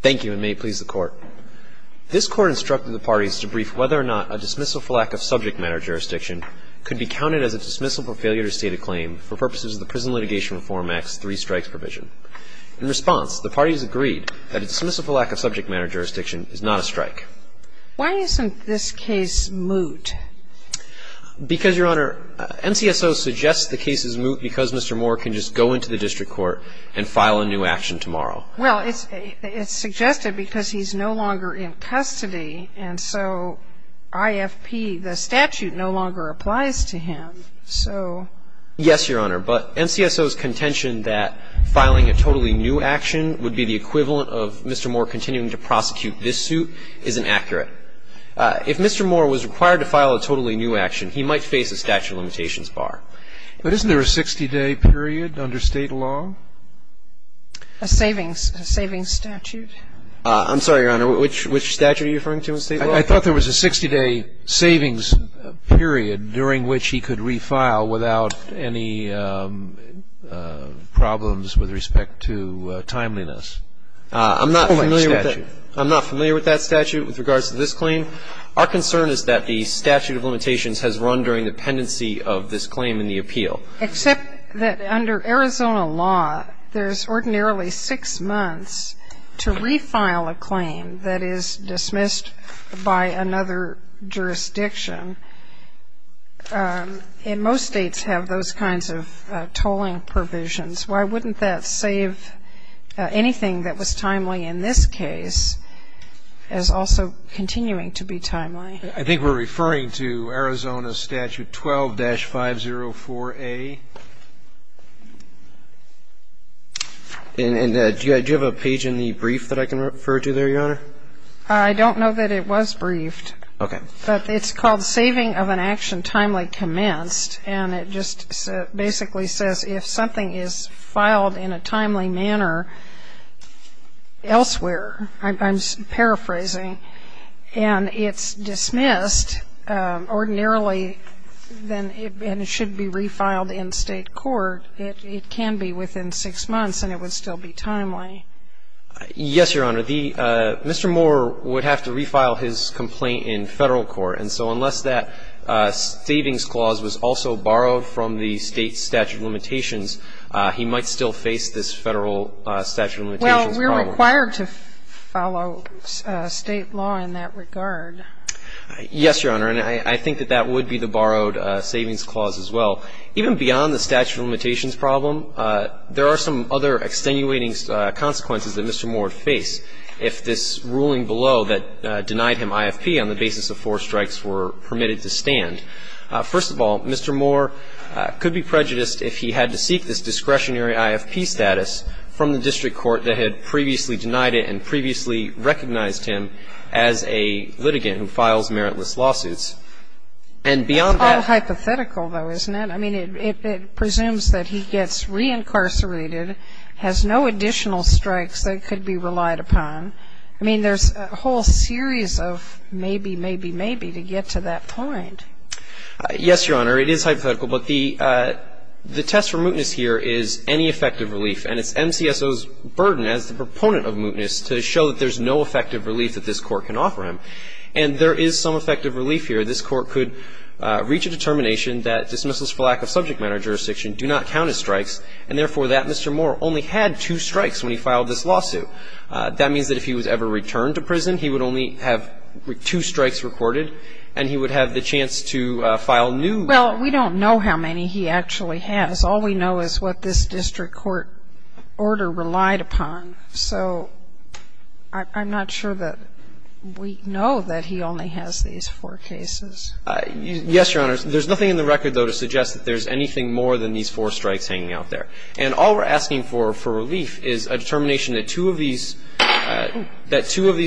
Thank you, and may it please the Court. This Court instructed the parties to brief whether or not a dismissal for lack of subject matter jurisdiction could be counted as a dismissal for failure to state a claim for purposes of the Prison Litigation Reform Act's three strikes provision. In response, the parties agreed that a dismissal for lack of subject matter jurisdiction is not a strike. Why isn't this case moot? Because, Your Honor, NCSO suggests the case is moot because Mr. Moore can just go into the district court and file a new action tomorrow. Well, it's suggested because he's no longer in custody, and so IFP, the statute, no longer applies to him, so... Yes, Your Honor, but NCSO's contention that filing a totally new action would be the equivalent of Mr. Moore continuing to prosecute this suit isn't accurate. If Mr. Moore was required to file a totally new action, he might face a statute of limitations bar. But isn't there a 60-day period under state law? A savings statute? I'm sorry, Your Honor. Which statute are you referring to in state law? I thought there was a 60-day savings period during which he could refile without any problems with respect to timeliness. I'm not familiar with that statute. I'm not familiar with that statute with regards to this claim. Our concern is that the statute of limitations has run during the pendency of this claim in the appeal. Except that under Arizona law, there's ordinarily six months to refile a claim that is dismissed by another jurisdiction. And most states have those kinds of tolling provisions. Why wouldn't that save anything that was timely in this case as also continuing to be timely? I think we're referring to Arizona Statute 12-504A. And do you have a page in the brief that I can refer to there, Your Honor? I don't know that it was briefed. Okay. But it's called saving of an action timely commenced. And it just basically says if something is filed in a timely manner elsewhere, I'm paraphrasing, and it's dismissed ordinarily, then it should be refiled in state court. It can be within six months, and it would still be timely. Yes, Your Honor. Mr. Moore would have to refile his complaint in Federal court. And so unless that savings clause was also borrowed from the State statute of limitations, he might still face this Federal statute of limitations problem. But we're required to follow State law in that regard. Yes, Your Honor. And I think that that would be the borrowed savings clause as well. Even beyond the statute of limitations problem, there are some other extenuating consequences that Mr. Moore would face if this ruling below that denied him IFP on the basis of four strikes were permitted to stand. First of all, Mr. Moore could be prejudiced if he had to seek this discretionary IFP status from the district court that had previously denied it and previously recognized him as a litigant who files meritless lawsuits. And beyond that ---- It's all hypothetical, though, isn't it? I mean, it presumes that he gets reincarcerated, has no additional strikes that could be relied upon. I mean, there's a whole series of maybe, maybe, maybe to get to that point. Yes, Your Honor. It is hypothetical. But the test for mootness here is any effective relief. And it's MCSO's burden as the proponent of mootness to show that there's no effective relief that this Court can offer him. And there is some effective relief here. This Court could reach a determination that dismissals for lack of subject matter jurisdiction do not count as strikes, and therefore that Mr. Moore only had two strikes when he filed this lawsuit. That means that if he was ever returned to prison, he would only have two strikes recorded, and he would have the chance to file new. Well, we don't know how many he actually has. All we know is what this district court order relied upon. So I'm not sure that we know that he only has these four cases. Yes, Your Honor. There's nothing in the record, though, to suggest that there's anything more than these four strikes hanging out there. And all we're asking for, for relief, is a determination that two of these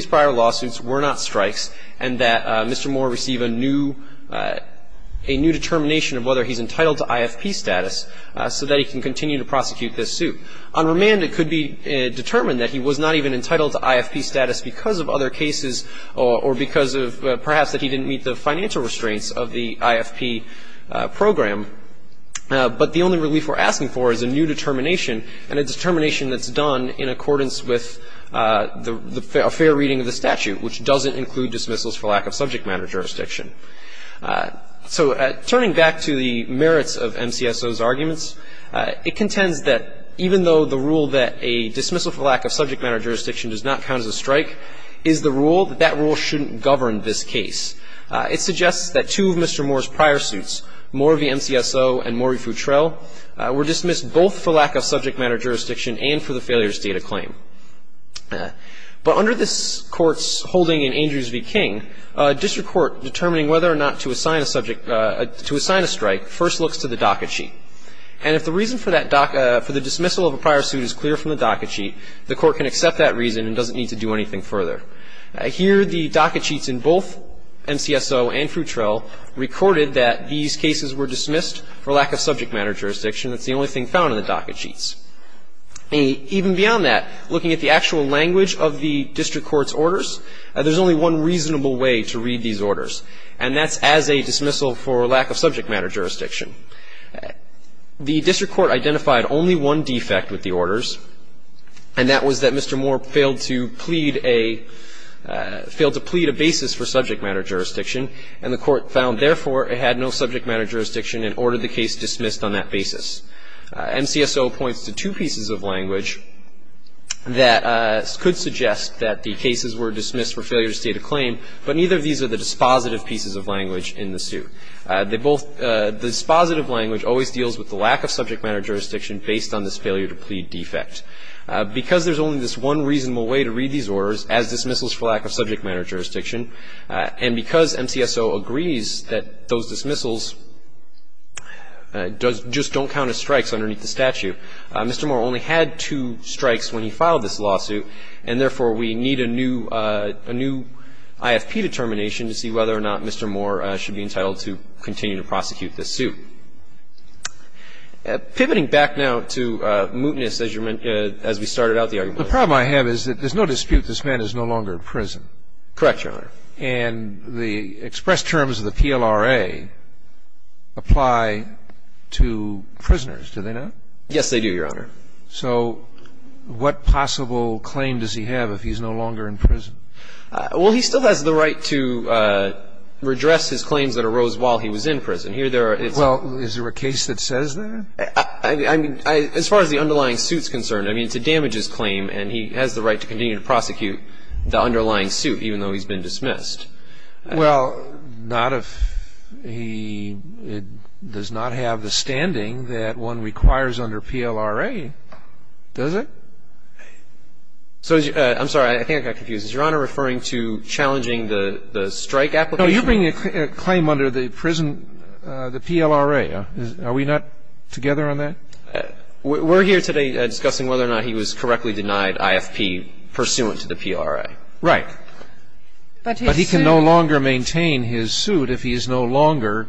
prior lawsuits were not strikes and that Mr. Moore receive a new determination of whether he's entitled to IFP status so that he can continue to prosecute this suit. On remand, it could be determined that he was not even entitled to IFP status because of other cases or because of perhaps that he didn't meet the financial restraints of the IFP program. But the only relief we're asking for is a new determination and a determination that's done in accordance with a fair reading of the statute, which doesn't include dismissals for lack of subject matter jurisdiction. So turning back to the merits of MCSO's arguments, it contends that even though the rule that a dismissal for lack of subject matter jurisdiction does not count as a strike is the rule, that that rule shouldn't govern this case. It suggests that two of Mr. Moore's prior suits, Morvie MCSO and Morvie Futrell, were dismissed both for lack of subject matter jurisdiction and for the failures data claim. But under this court's holding in Andrews v. King, a district court determining whether or not to assign a strike first looks to the docket sheet. And if the reason for the dismissal of a prior suit is clear from the docket sheet, the court can accept that reason and doesn't need to do anything further. Here the docket sheets in both MCSO and Futrell recorded that these cases were subject matter jurisdiction. That's the only thing found in the docket sheets. Even beyond that, looking at the actual language of the district court's orders, there's only one reasonable way to read these orders, and that's as a dismissal for lack of subject matter jurisdiction. The district court identified only one defect with the orders, and that was that Mr. Moore failed to plead a basis for subject matter jurisdiction, and the court found, therefore, it had no subject matter jurisdiction and ordered the case dismissed on that basis. MCSO points to two pieces of language that could suggest that the cases were dismissed for failure to state a claim, but neither of these are the dispositive pieces of language in the suit. The dispositive language always deals with the lack of subject matter jurisdiction based on this failure to plead defect. Because there's only this one reasonable way to read these orders, as dismissals for lack of subject matter jurisdiction, and because MCSO agrees that those dismissals just don't count as strikes underneath the statute, Mr. Moore only had two strikes when he filed this lawsuit, and therefore we need a new IFP determination to see whether or not Mr. Moore should be entitled to continue to prosecute this suit. Pivoting back now to mootness as we started out the argument. The problem I have is that there's no dispute this man is no longer in prison. Correct, Your Honor. And the express terms of the PLRA apply to prisoners, do they not? Yes, they do, Your Honor. So what possible claim does he have if he's no longer in prison? Well, he still has the right to redress his claims that arose while he was in prison. Here there are its own. Well, is there a case that says that? I mean, as far as the underlying suit's concerned, I mean, to damage his claim, and he has the right to continue to prosecute the underlying suit even though he's been dismissed. Well, not if he does not have the standing that one requires under PLRA, does it? I'm sorry. I think I got confused. Is Your Honor referring to challenging the strike application? No, you're bringing a claim under the prison, the PLRA. Are we not together on that? We're here today discussing whether or not he was correctly denied IFP pursuant to the PLRA. Right. But he can no longer maintain his suit if he is no longer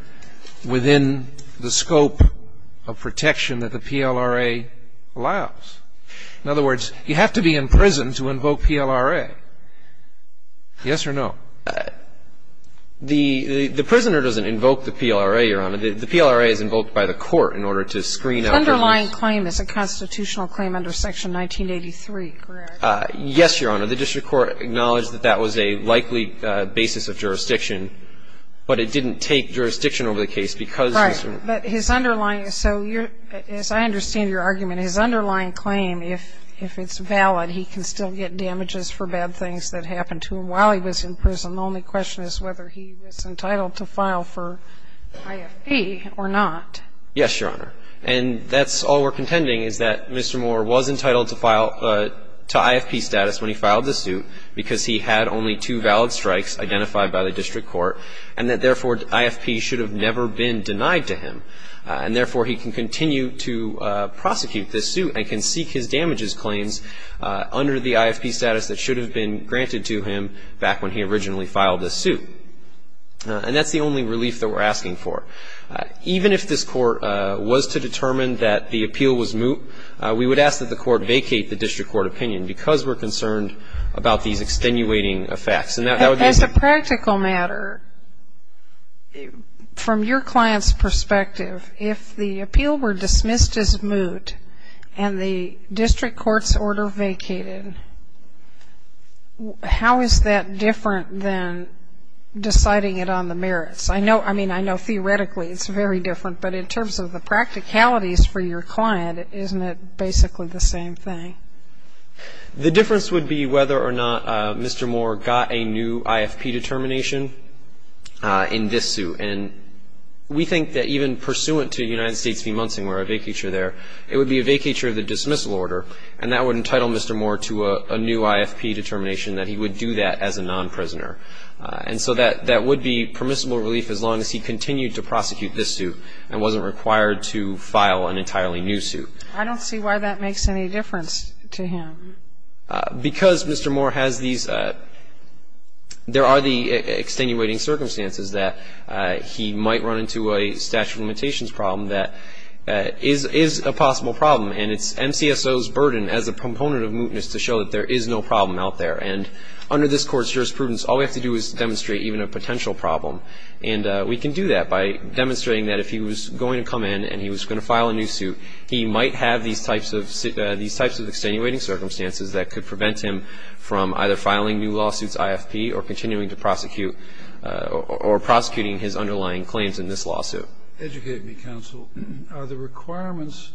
within the scope of protection that the PLRA allows. In other words, you have to be in prison to invoke PLRA. Yes or no? The prisoner doesn't invoke the PLRA, Your Honor. The PLRA is invoked by the court in order to screen out the use. The underlying claim is a constitutional claim under Section 1983, correct? Yes, Your Honor. The district court acknowledged that that was a likely basis of jurisdiction, but it didn't take jurisdiction over the case because this was. Right. But his underlying. So as I understand your argument, his underlying claim, if it's valid, he can still get damages for bad things that happened to him while he was in prison. And the only question is whether he was entitled to file for IFP or not. Yes, Your Honor. And that's all we're contending is that Mr. Moore was entitled to file to IFP status when he filed the suit because he had only two valid strikes identified by the district court and that, therefore, IFP should have never been denied to him. And, therefore, he can continue to prosecute this suit and can seek his damages claims under the IFP status that should have been granted to him back when he originally filed the suit. And that's the only relief that we're asking for. Even if this court was to determine that the appeal was moot, we would ask that the court vacate the district court opinion because we're concerned about these extenuating effects. As a practical matter, from your client's perspective, if the appeal were dismissed as moot and the district court's order vacated, how is that different than deciding it on the merits? I mean, I know theoretically it's very different, but in terms of the practicalities for your client, isn't it basically the same thing? The difference would be whether or not Mr. Moore got a new IFP determination in this suit. And we think that even pursuant to United States v. Munson, where I vacate you there, it would be a vacature of the dismissal order, and that would entitle Mr. Moore to a new IFP determination, that he would do that as a non-prisoner. And so that would be permissible relief as long as he continued to prosecute this suit and wasn't required to file an entirely new suit. I don't see why that makes any difference to him. Because Mr. Moore has these, there are the extenuating circumstances that he might run into a statute of limitations problem that is a possible problem, and it's MCSO's burden as a component of mootness to show that there is no problem out there. And under this Court's jurisprudence, all we have to do is demonstrate even a potential problem. And we can do that by demonstrating that if he was going to come in and he was going to file a new suit, he might have these types of extenuating circumstances that could prevent him from either filing new lawsuits IFP or continuing to prosecute or prosecuting his underlying claims in this lawsuit. Scalia. Educate me, counsel. Are the requirements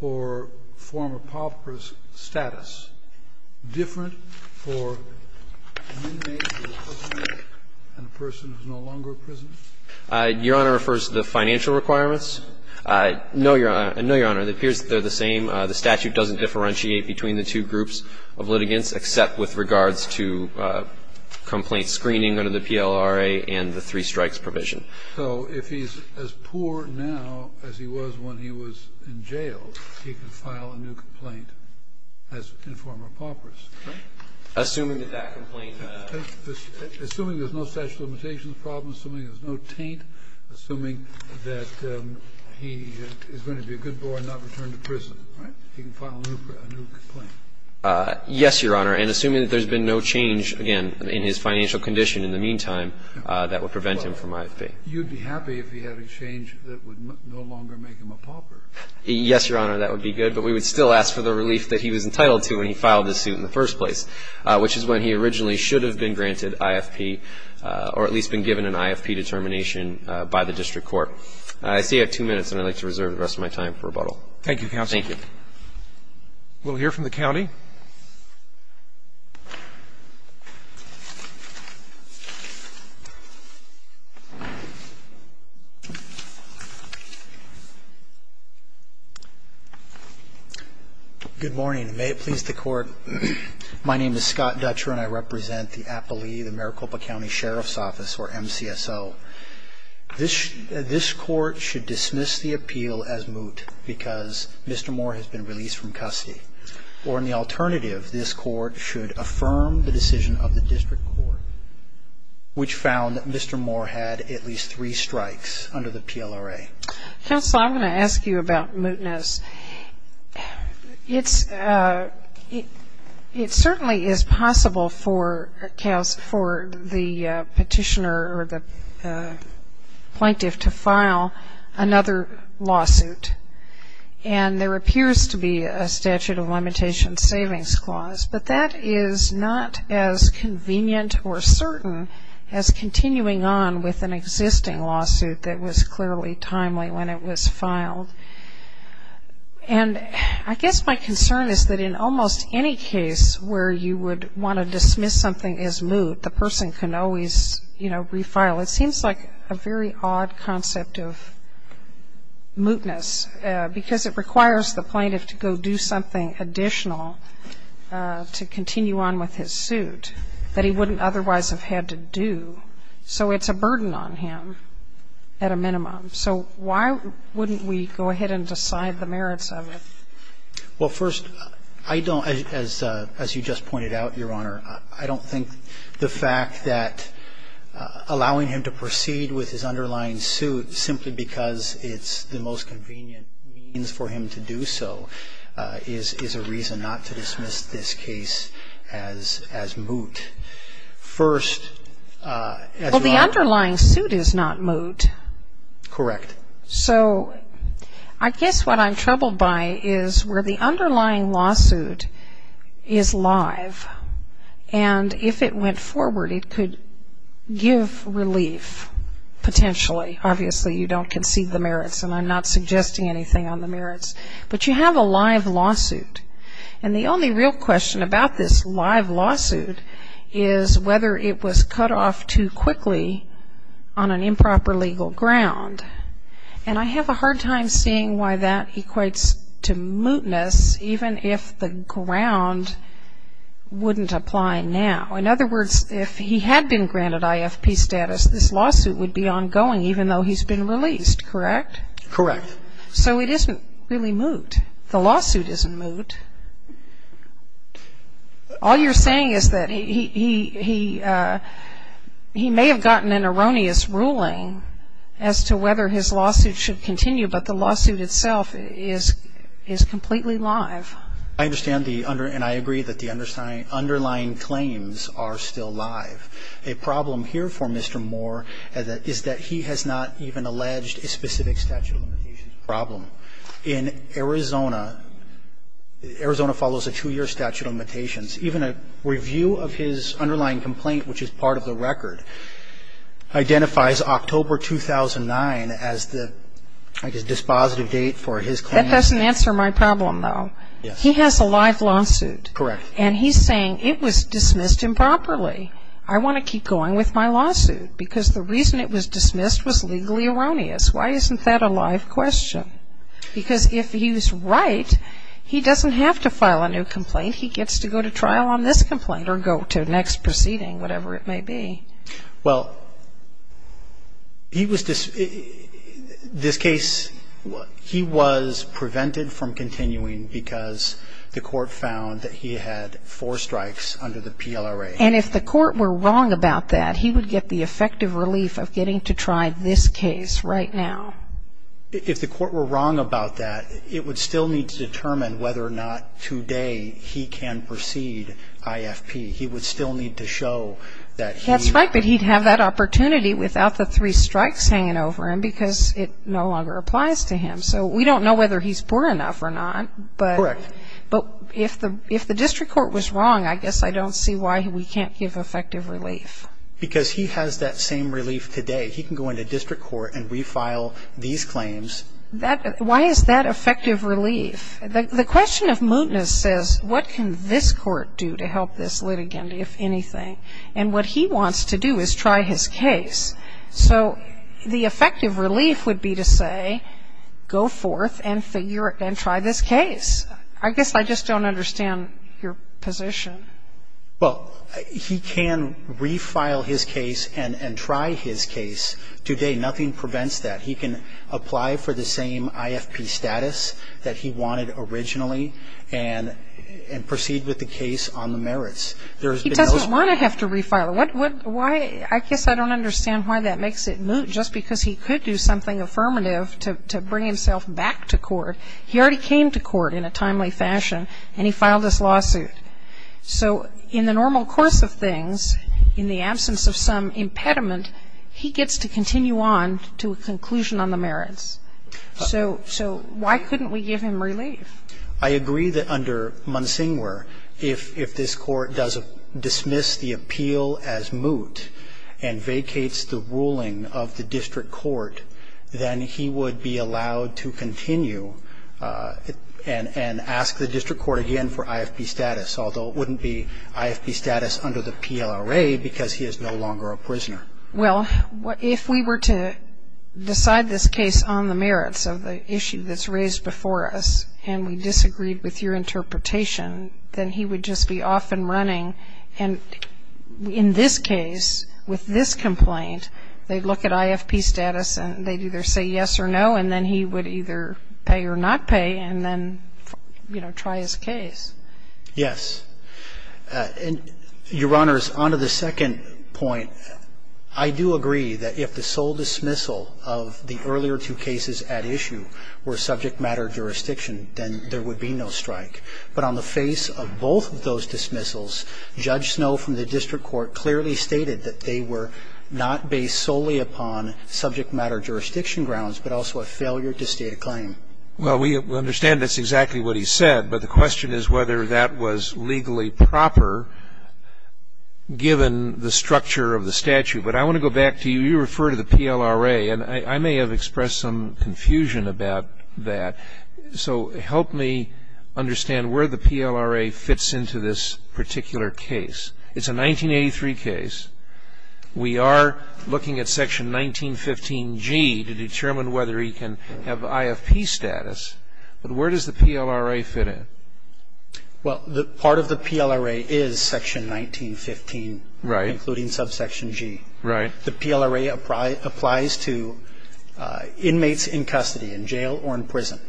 for former pauper's status different for an inmate who is a prisoner and a person who is no longer a prisoner? Your Honor refers to the financial requirements? No, Your Honor. No, Your Honor. It appears they're the same. The statute doesn't differentiate between the two groups of litigants except with If he is as poor now as he was when he was in jail, he can file a new complaint as informer pauper's, right? Assuming that that complaint Assuming there's no statute of limitations problem, assuming there's no taint, assuming that he is going to be a good boy and not return to prison, right? He can file a new complaint. Yes, Your Honor. And assuming that there's been no change, again, in his financial condition in the meantime, that would prevent him from IFP. You'd be happy if he had a change that would no longer make him a pauper? Yes, Your Honor. That would be good. But we would still ask for the relief that he was entitled to when he filed this suit in the first place, which is when he originally should have been granted IFP or at least been given an IFP determination by the district court. I see I have two minutes, and I'd like to reserve the rest of my time for rebuttal. Thank you, counsel. Thank you. We'll hear from the county. Good morning. May it please the Court. My name is Scott Dutcher, and I represent the appellee, the Maricopa County Sheriff's Office, or MCSO. This Court should dismiss the appeal as moot because Mr. Moore has been released from custody. Or in the alternative, this Court should affirm the decision of the district court, which found that Mr. Moore had at least three strikes under the PLRA. Counsel, I'm going to ask you about mootness. It certainly is possible for the petitioner or the plaintiff to file another lawsuit, and there appears to be a statute of limitations savings clause, but that is not as convenient or certain as continuing on with an existing lawsuit that was clearly timely when it was filed. And I guess my concern is that in almost any case where you would want to dismiss something as moot, the person can always, you know, refile. It seems like a very odd concept of mootness because it requires the plaintiff to go do something additional to continue on with his suit that he wouldn't otherwise have had to do. So it's a burden on him at a minimum. So why wouldn't we go ahead and decide the merits of it? Well, first, I don't, as you just pointed out, Your Honor, I don't think the fact that allowing him to proceed with his underlying suit simply because it's the most convenient means for him to do so is a reason not to dismiss this case as moot. First, as you are. Well, the underlying suit is not moot. Correct. So I guess what I'm troubled by is where the underlying lawsuit is live and if it went forward, it could give relief potentially. Obviously, you don't concede the merits, and I'm not suggesting anything on the merits. But you have a live lawsuit. And the only real question about this live lawsuit is whether it was cut off too quickly on an improper legal ground. And I have a hard time seeing why that equates to mootness, even if the ground wouldn't apply now. In other words, if he had been granted IFP status, this lawsuit would be ongoing even though he's been released, correct? Correct. So it isn't really moot. The lawsuit isn't moot. All you're saying is that he may have gotten an erroneous ruling as to whether his lawsuit should continue, but the lawsuit itself is completely live. I understand and I agree that the underlying claims are still live. A problem here for Mr. Moore is that he has not even alleged a specific statute of limitations problem. In Arizona, Arizona follows a two-year statute of limitations. Even a review of his underlying complaint, which is part of the record, identifies October 2009 as the, I guess, dispositive date for his claim. That doesn't answer my problem, though. Yes. He has a live lawsuit. Correct. And he's saying it was dismissed improperly. I want to keep going with my lawsuit because the reason it was dismissed was legally erroneous. Why isn't that a live question? Because if he was right, he doesn't have to file a new complaint. He gets to go to trial on this complaint or go to the next proceeding, whatever it may be. Well, he was, this case, he was prevented from continuing because the court found that he had four strikes under the PLRA. And if the court were wrong about that, he would get the effective relief of getting to try this case right now. If the court were wrong about that, it would still need to determine whether or not today he can proceed IFP. He would still need to show that he... That's right, but he'd have that opportunity without the three strikes hanging over him because it no longer applies to him. So we don't know whether he's poor enough or not. Correct. But if the district court was wrong, I guess I don't see why we can't give effective relief. Because he has that same relief today. He can go into district court and refile these claims. Why is that effective relief? The question of mootness says, what can this court do to help this litigant, if anything? And what he wants to do is try his case. So the effective relief would be to say, go forth and try this case. I guess I just don't understand your position. Well, he can refile his case and try his case today. Nothing prevents that. He can apply for the same IFP status that he wanted originally and proceed with the case on the merits. He doesn't want to have to refile it. I guess I don't understand why that makes it moot, just because he could do something affirmative to bring himself back to court. He already came to court in a timely fashion, and he filed this lawsuit. So in the normal course of things, in the absence of some impediment, he gets to continue on to a conclusion on the merits. So why couldn't we give him relief? I agree that under Munsingwar, if this court does dismiss the appeal as moot and vacates the ruling of the district court, then he would be allowed to continue and ask the district court again for IFP status, although it wouldn't be IFP status under the PLRA because he is no longer a prisoner. Well, if we were to decide this case on the merits of the issue that's raised before us and we disagreed with your interpretation, then he would just be off and running. And in this case, with this complaint, they'd look at IFP status and they'd either say yes or no, and then he would either pay or not pay and then, you know, try his case. Yes. And, Your Honors, on to the second point, I do agree that if the sole dismissal of the earlier two cases at issue were subject matter jurisdiction, then there would be no strike. But on the face of both of those dismissals, Judge Snowe from the district court clearly stated that they were not based solely upon subject matter jurisdiction grounds but also a failure to state a claim. Well, we understand that's exactly what he said, but the question is whether that was legally proper given the structure of the statute. But I want to go back to you. You refer to the PLRA, and I may have expressed some confusion about that. So help me understand where the PLRA fits into this particular case. It's a 1983 case. We are looking at Section 1915G to determine whether he can have IFP status. But where does the PLRA fit in? Well, part of the PLRA is Section 1915. Right. Including Subsection G. Right. The PLRA applies to inmates in custody, in jail or in prison.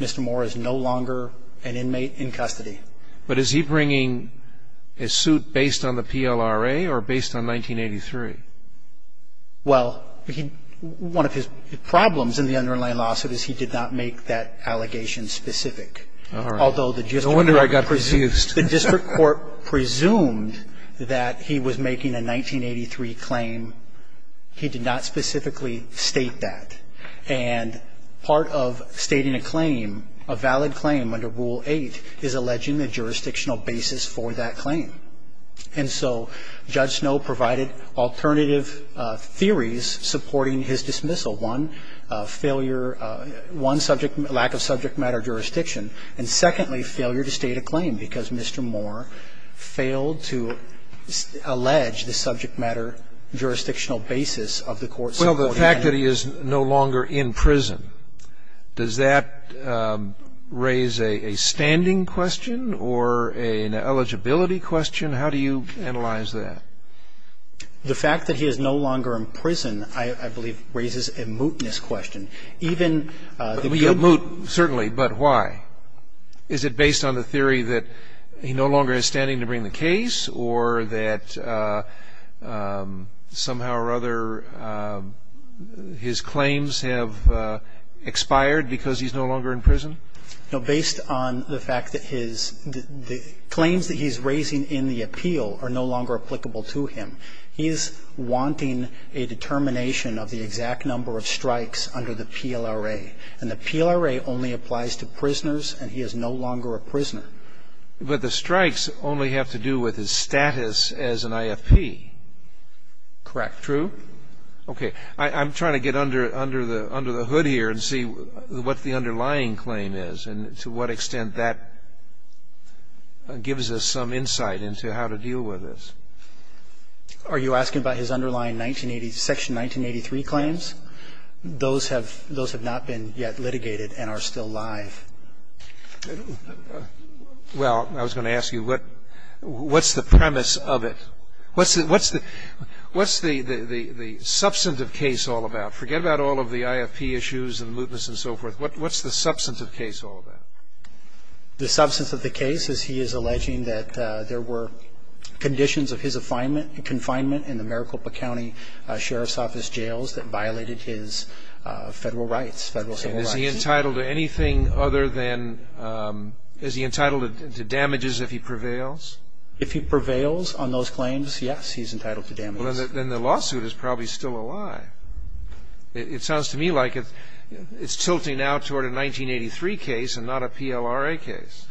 Mr. Moore is no longer an inmate in custody. But is he bringing a suit based on the PLRA or based on 1983? Well, one of his problems in the underlying lawsuit is he did not make that allegation specific. All right. No wonder I got confused. The district court presumed that he was making a 1983 claim. He did not specifically state that. And part of stating a claim, a valid claim under Rule 8, is alleging a jurisdictional basis for that claim. And so Judge Snow provided alternative theories supporting his dismissal. One, failure of one subject, lack of subject matter jurisdiction. And secondly, failure to state a claim, because Mr. Moore failed to allege the subject matter jurisdictional basis of the court's supporting evidence. Well, the fact that he is no longer in prison, does that raise a standing question or an eligibility question? How do you analyze that? The fact that he is no longer in prison, I believe, raises a mootness question. Even the good mootness. Is it based on the theory that he no longer has standing to bring the case or that somehow or other his claims have expired because he's no longer in prison? No. Based on the fact that his claims that he's raising in the appeal are no longer applicable to him. He's wanting a determination of the exact number of strikes under the PLRA. And the PLRA only applies to prisoners and he is no longer a prisoner. But the strikes only have to do with his status as an IFP. Correct. True? Okay. I'm trying to get under the hood here and see what the underlying claim is and to what extent that gives us some insight into how to deal with this. Are you asking about his underlying section 1983 claims? Those have not been yet litigated and are still live. Well, I was going to ask you, what's the premise of it? What's the substantive case all about? Forget about all of the IFP issues and the mootness and so forth. What's the substantive case all about? The substance of the case is he is alleging that there were conditions of his confinement in the Maricopa County Sheriff's Office jails that violated his federal rights, federal civil rights. Is he entitled to anything other than, is he entitled to damages if he prevails? If he prevails on those claims, yes, he's entitled to damages. Then the lawsuit is probably still alive. It sounds to me like it's tilting now toward a 1983 case and not a PLRA case.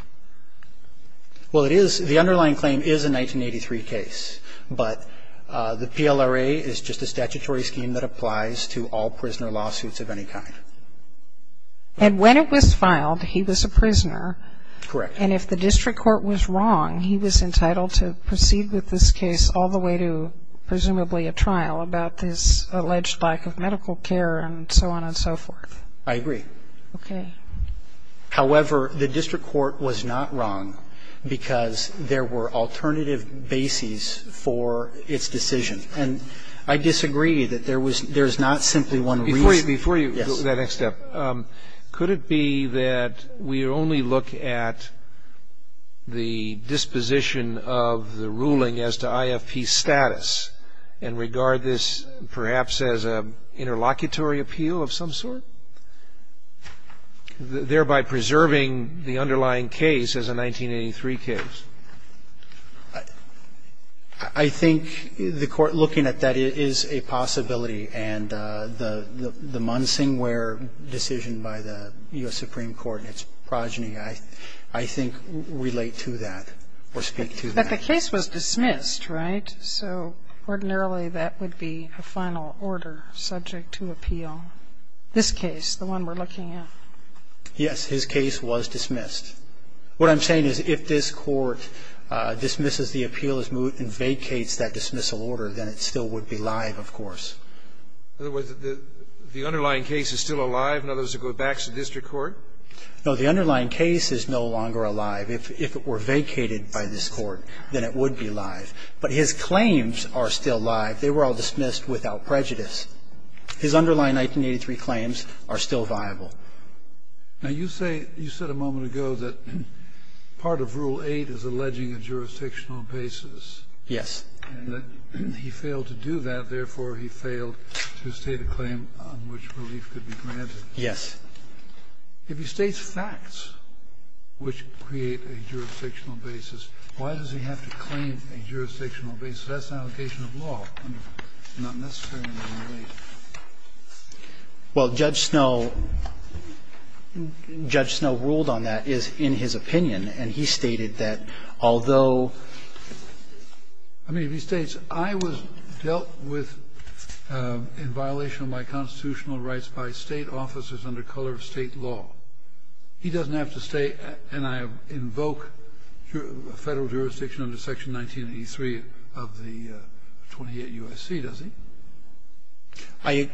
Well, it is. The underlying claim is a 1983 case. But the PLRA is just a statutory scheme that applies to all prisoner lawsuits of any kind. And when it was filed, he was a prisoner. Correct. And if the district court was wrong, he was entitled to proceed with this case all the way to presumably a trial about his alleged lack of medical care and so on and so forth. I agree. Okay. However, the district court was not wrong because there were alternative bases for its decision. And I disagree that there's not simply one reason. Before you go to that next step, could it be that we only look at the disposition of the ruling as to IFP status and regard this perhaps as an interlocutory appeal of some sort, thereby preserving the underlying case as a 1983 case? I think the court looking at that is a possibility. And the Munsingware decision by the U.S. Supreme Court and its progeny, I think, relate to that or speak to that. But the case was dismissed, right? So ordinarily, that would be a final order subject to appeal. This case, the one we're looking at. Yes. His case was dismissed. What I'm saying is if this Court dismisses the appeal as moot and vacates that dismissal order, then it still would be live, of course. In other words, the underlying case is still alive, in other words, it goes back to district court? No. The underlying case is no longer alive. If it were vacated by this Court, then it would be live. But his claims are still live. They were all dismissed without prejudice. His underlying 1983 claims are still viable. Now, you say you said a moment ago that part of Rule 8 is alleging a jurisdictional basis. Yes. And that he failed to do that, therefore he failed to state a claim on which relief could be granted. Yes. If he states facts which create a jurisdictional basis, why does he have to claim a jurisdictional basis? That's an allegation of law, not necessarily a relief. Well, Judge Snow ruled on that in his opinion, and he stated that although I mean, if he states, I was dealt with in violation of my constitutional rights by State officers under color of State law. He doesn't have to state, and I invoke Federal jurisdiction under Section 1983 of the 28 U.S.C., does he? I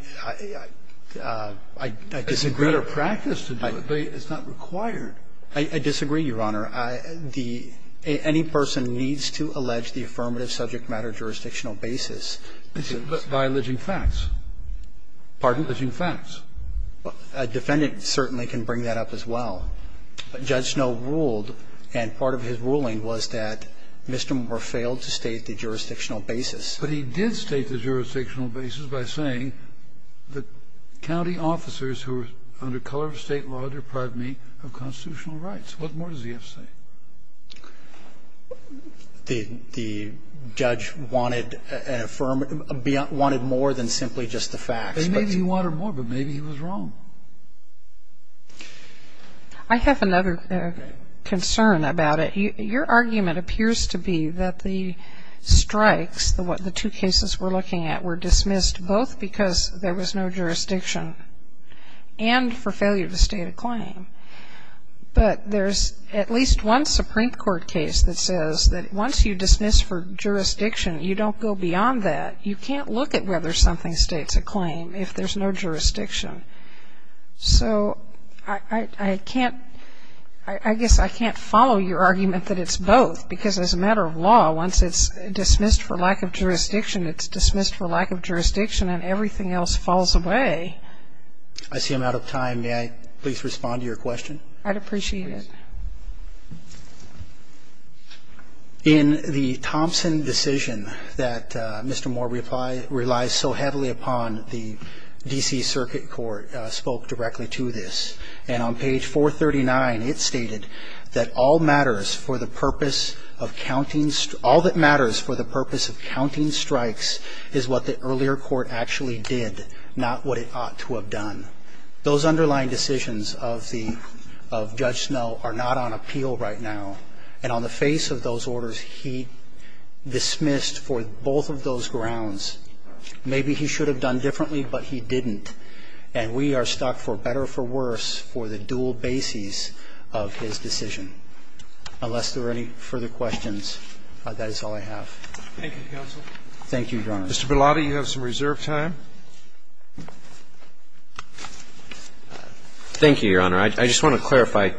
disagree. It's a better practice to do it, but it's not required. I disagree, Your Honor. Any person needs to allege the affirmative subject matter jurisdictional basis. By alleging facts. Pardon? Alleging facts. A defendant certainly can bring that up as well. But Judge Snow ruled, and part of his ruling was that Mr. Moore failed to state the jurisdictional basis. But he did state the jurisdictional basis by saying that county officers who were under color of State law deprived me of constitutional rights. What more does he have to say? The judge wanted an affirmative beyond, wanted more than simply just the facts. Well, maybe he wanted more, but maybe he was wrong. I have another concern about it. Your argument appears to be that the strikes, the two cases we're looking at, were dismissed both because there was no jurisdiction and for failure to state a claim. But there's at least one Supreme Court case that says that once you dismiss for jurisdiction, you don't go beyond that. You can't look at whether something states a claim if there's no jurisdiction. So I can't, I guess I can't follow your argument that it's both because as a matter of law, once it's dismissed for lack of jurisdiction, it's dismissed for lack of jurisdiction and everything else falls away. I see I'm out of time. May I please respond to your question? I'd appreciate it. In the Thompson decision that Mr. Moore relies so heavily upon, the D.C. Circuit Court spoke directly to this. And on page 439, it stated that all matters for the purpose of counting, all that matters for the purpose of counting strikes is what the earlier court actually did, not what it ought to have done. Those underlying decisions of the of Judge Snowe are not on appeal right now. And on the face of those orders, he dismissed for both of those grounds. Maybe he should have done differently, but he didn't. And we are stuck for better or for worse for the dual bases of his decision. Unless there are any further questions, that is all I have. Thank you, counsel. Thank you, Your Honor. Mr. Bilotti, you have some reserve time. Thank you, Your Honor. I just want to clarify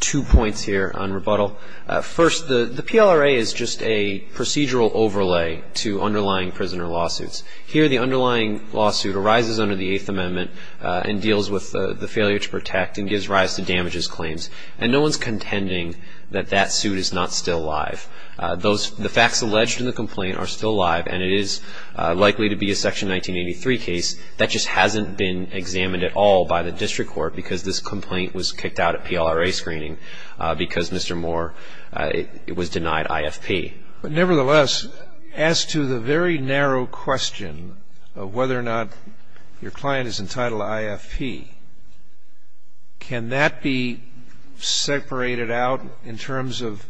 two points here on rebuttal. First, the PLRA is just a procedural overlay to underlying prisoner lawsuits. Here, the underlying lawsuit arises under the Eighth Amendment and deals with the failure to protect and gives rise to damages claims. And no one is contending that that suit is not still live. The facts alleged in the complaint are still live, and it is likely to be a Section 1983 case. That just hasn't been examined at all by the district court because this complaint was kicked out at PLRA screening because Mr. Moore was denied IFP. Nevertheless, as to the very narrow question of whether or not your client is entitled to the original denial of IFP, can that be separated out in terms of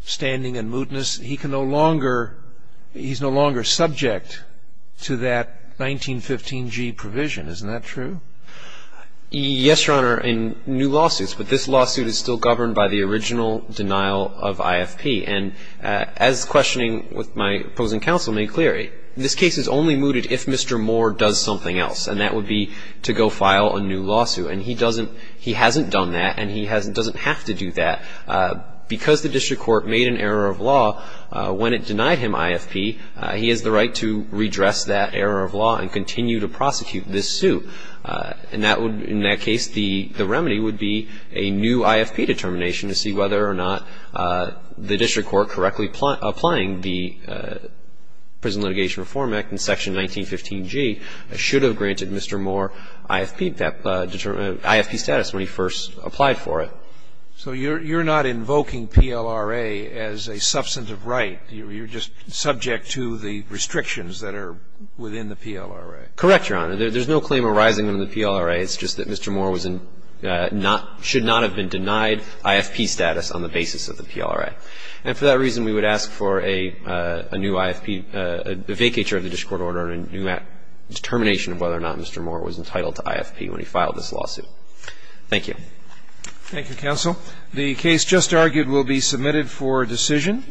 standing and mootness? He can no longer, he's no longer subject to that 1915g provision. Isn't that true? Yes, Your Honor, in new lawsuits. But this lawsuit is still governed by the original denial of IFP. And as questioning with my opposing counsel made clear, this case is only mooted if Mr. Moore does something else. And that would be to go file a new lawsuit. And he doesn't, he hasn't done that, and he doesn't have to do that. Because the district court made an error of law when it denied him IFP, he has the right to redress that error of law and continue to prosecute this suit. And that would, in that case, the remedy would be a new IFP determination to see whether or not the district court correctly applying the Prison Litigation Reform Act and Section 1915g should have granted Mr. Moore IFP, IFP status when he first applied for it. So you're not invoking PLRA as a substantive right? You're just subject to the restrictions that are within the PLRA? Correct, Your Honor. There's no claim arising in the PLRA. It's just that Mr. Moore was in not, should not have been denied IFP status on the basis of the PLRA. And for that reason, we would ask for a new IFP, a vacatur of the district court order and a new determination of whether or not Mr. Moore was entitled to IFP when he filed this lawsuit. Thank you. Thank you, counsel. The case just argued will be submitted for decision.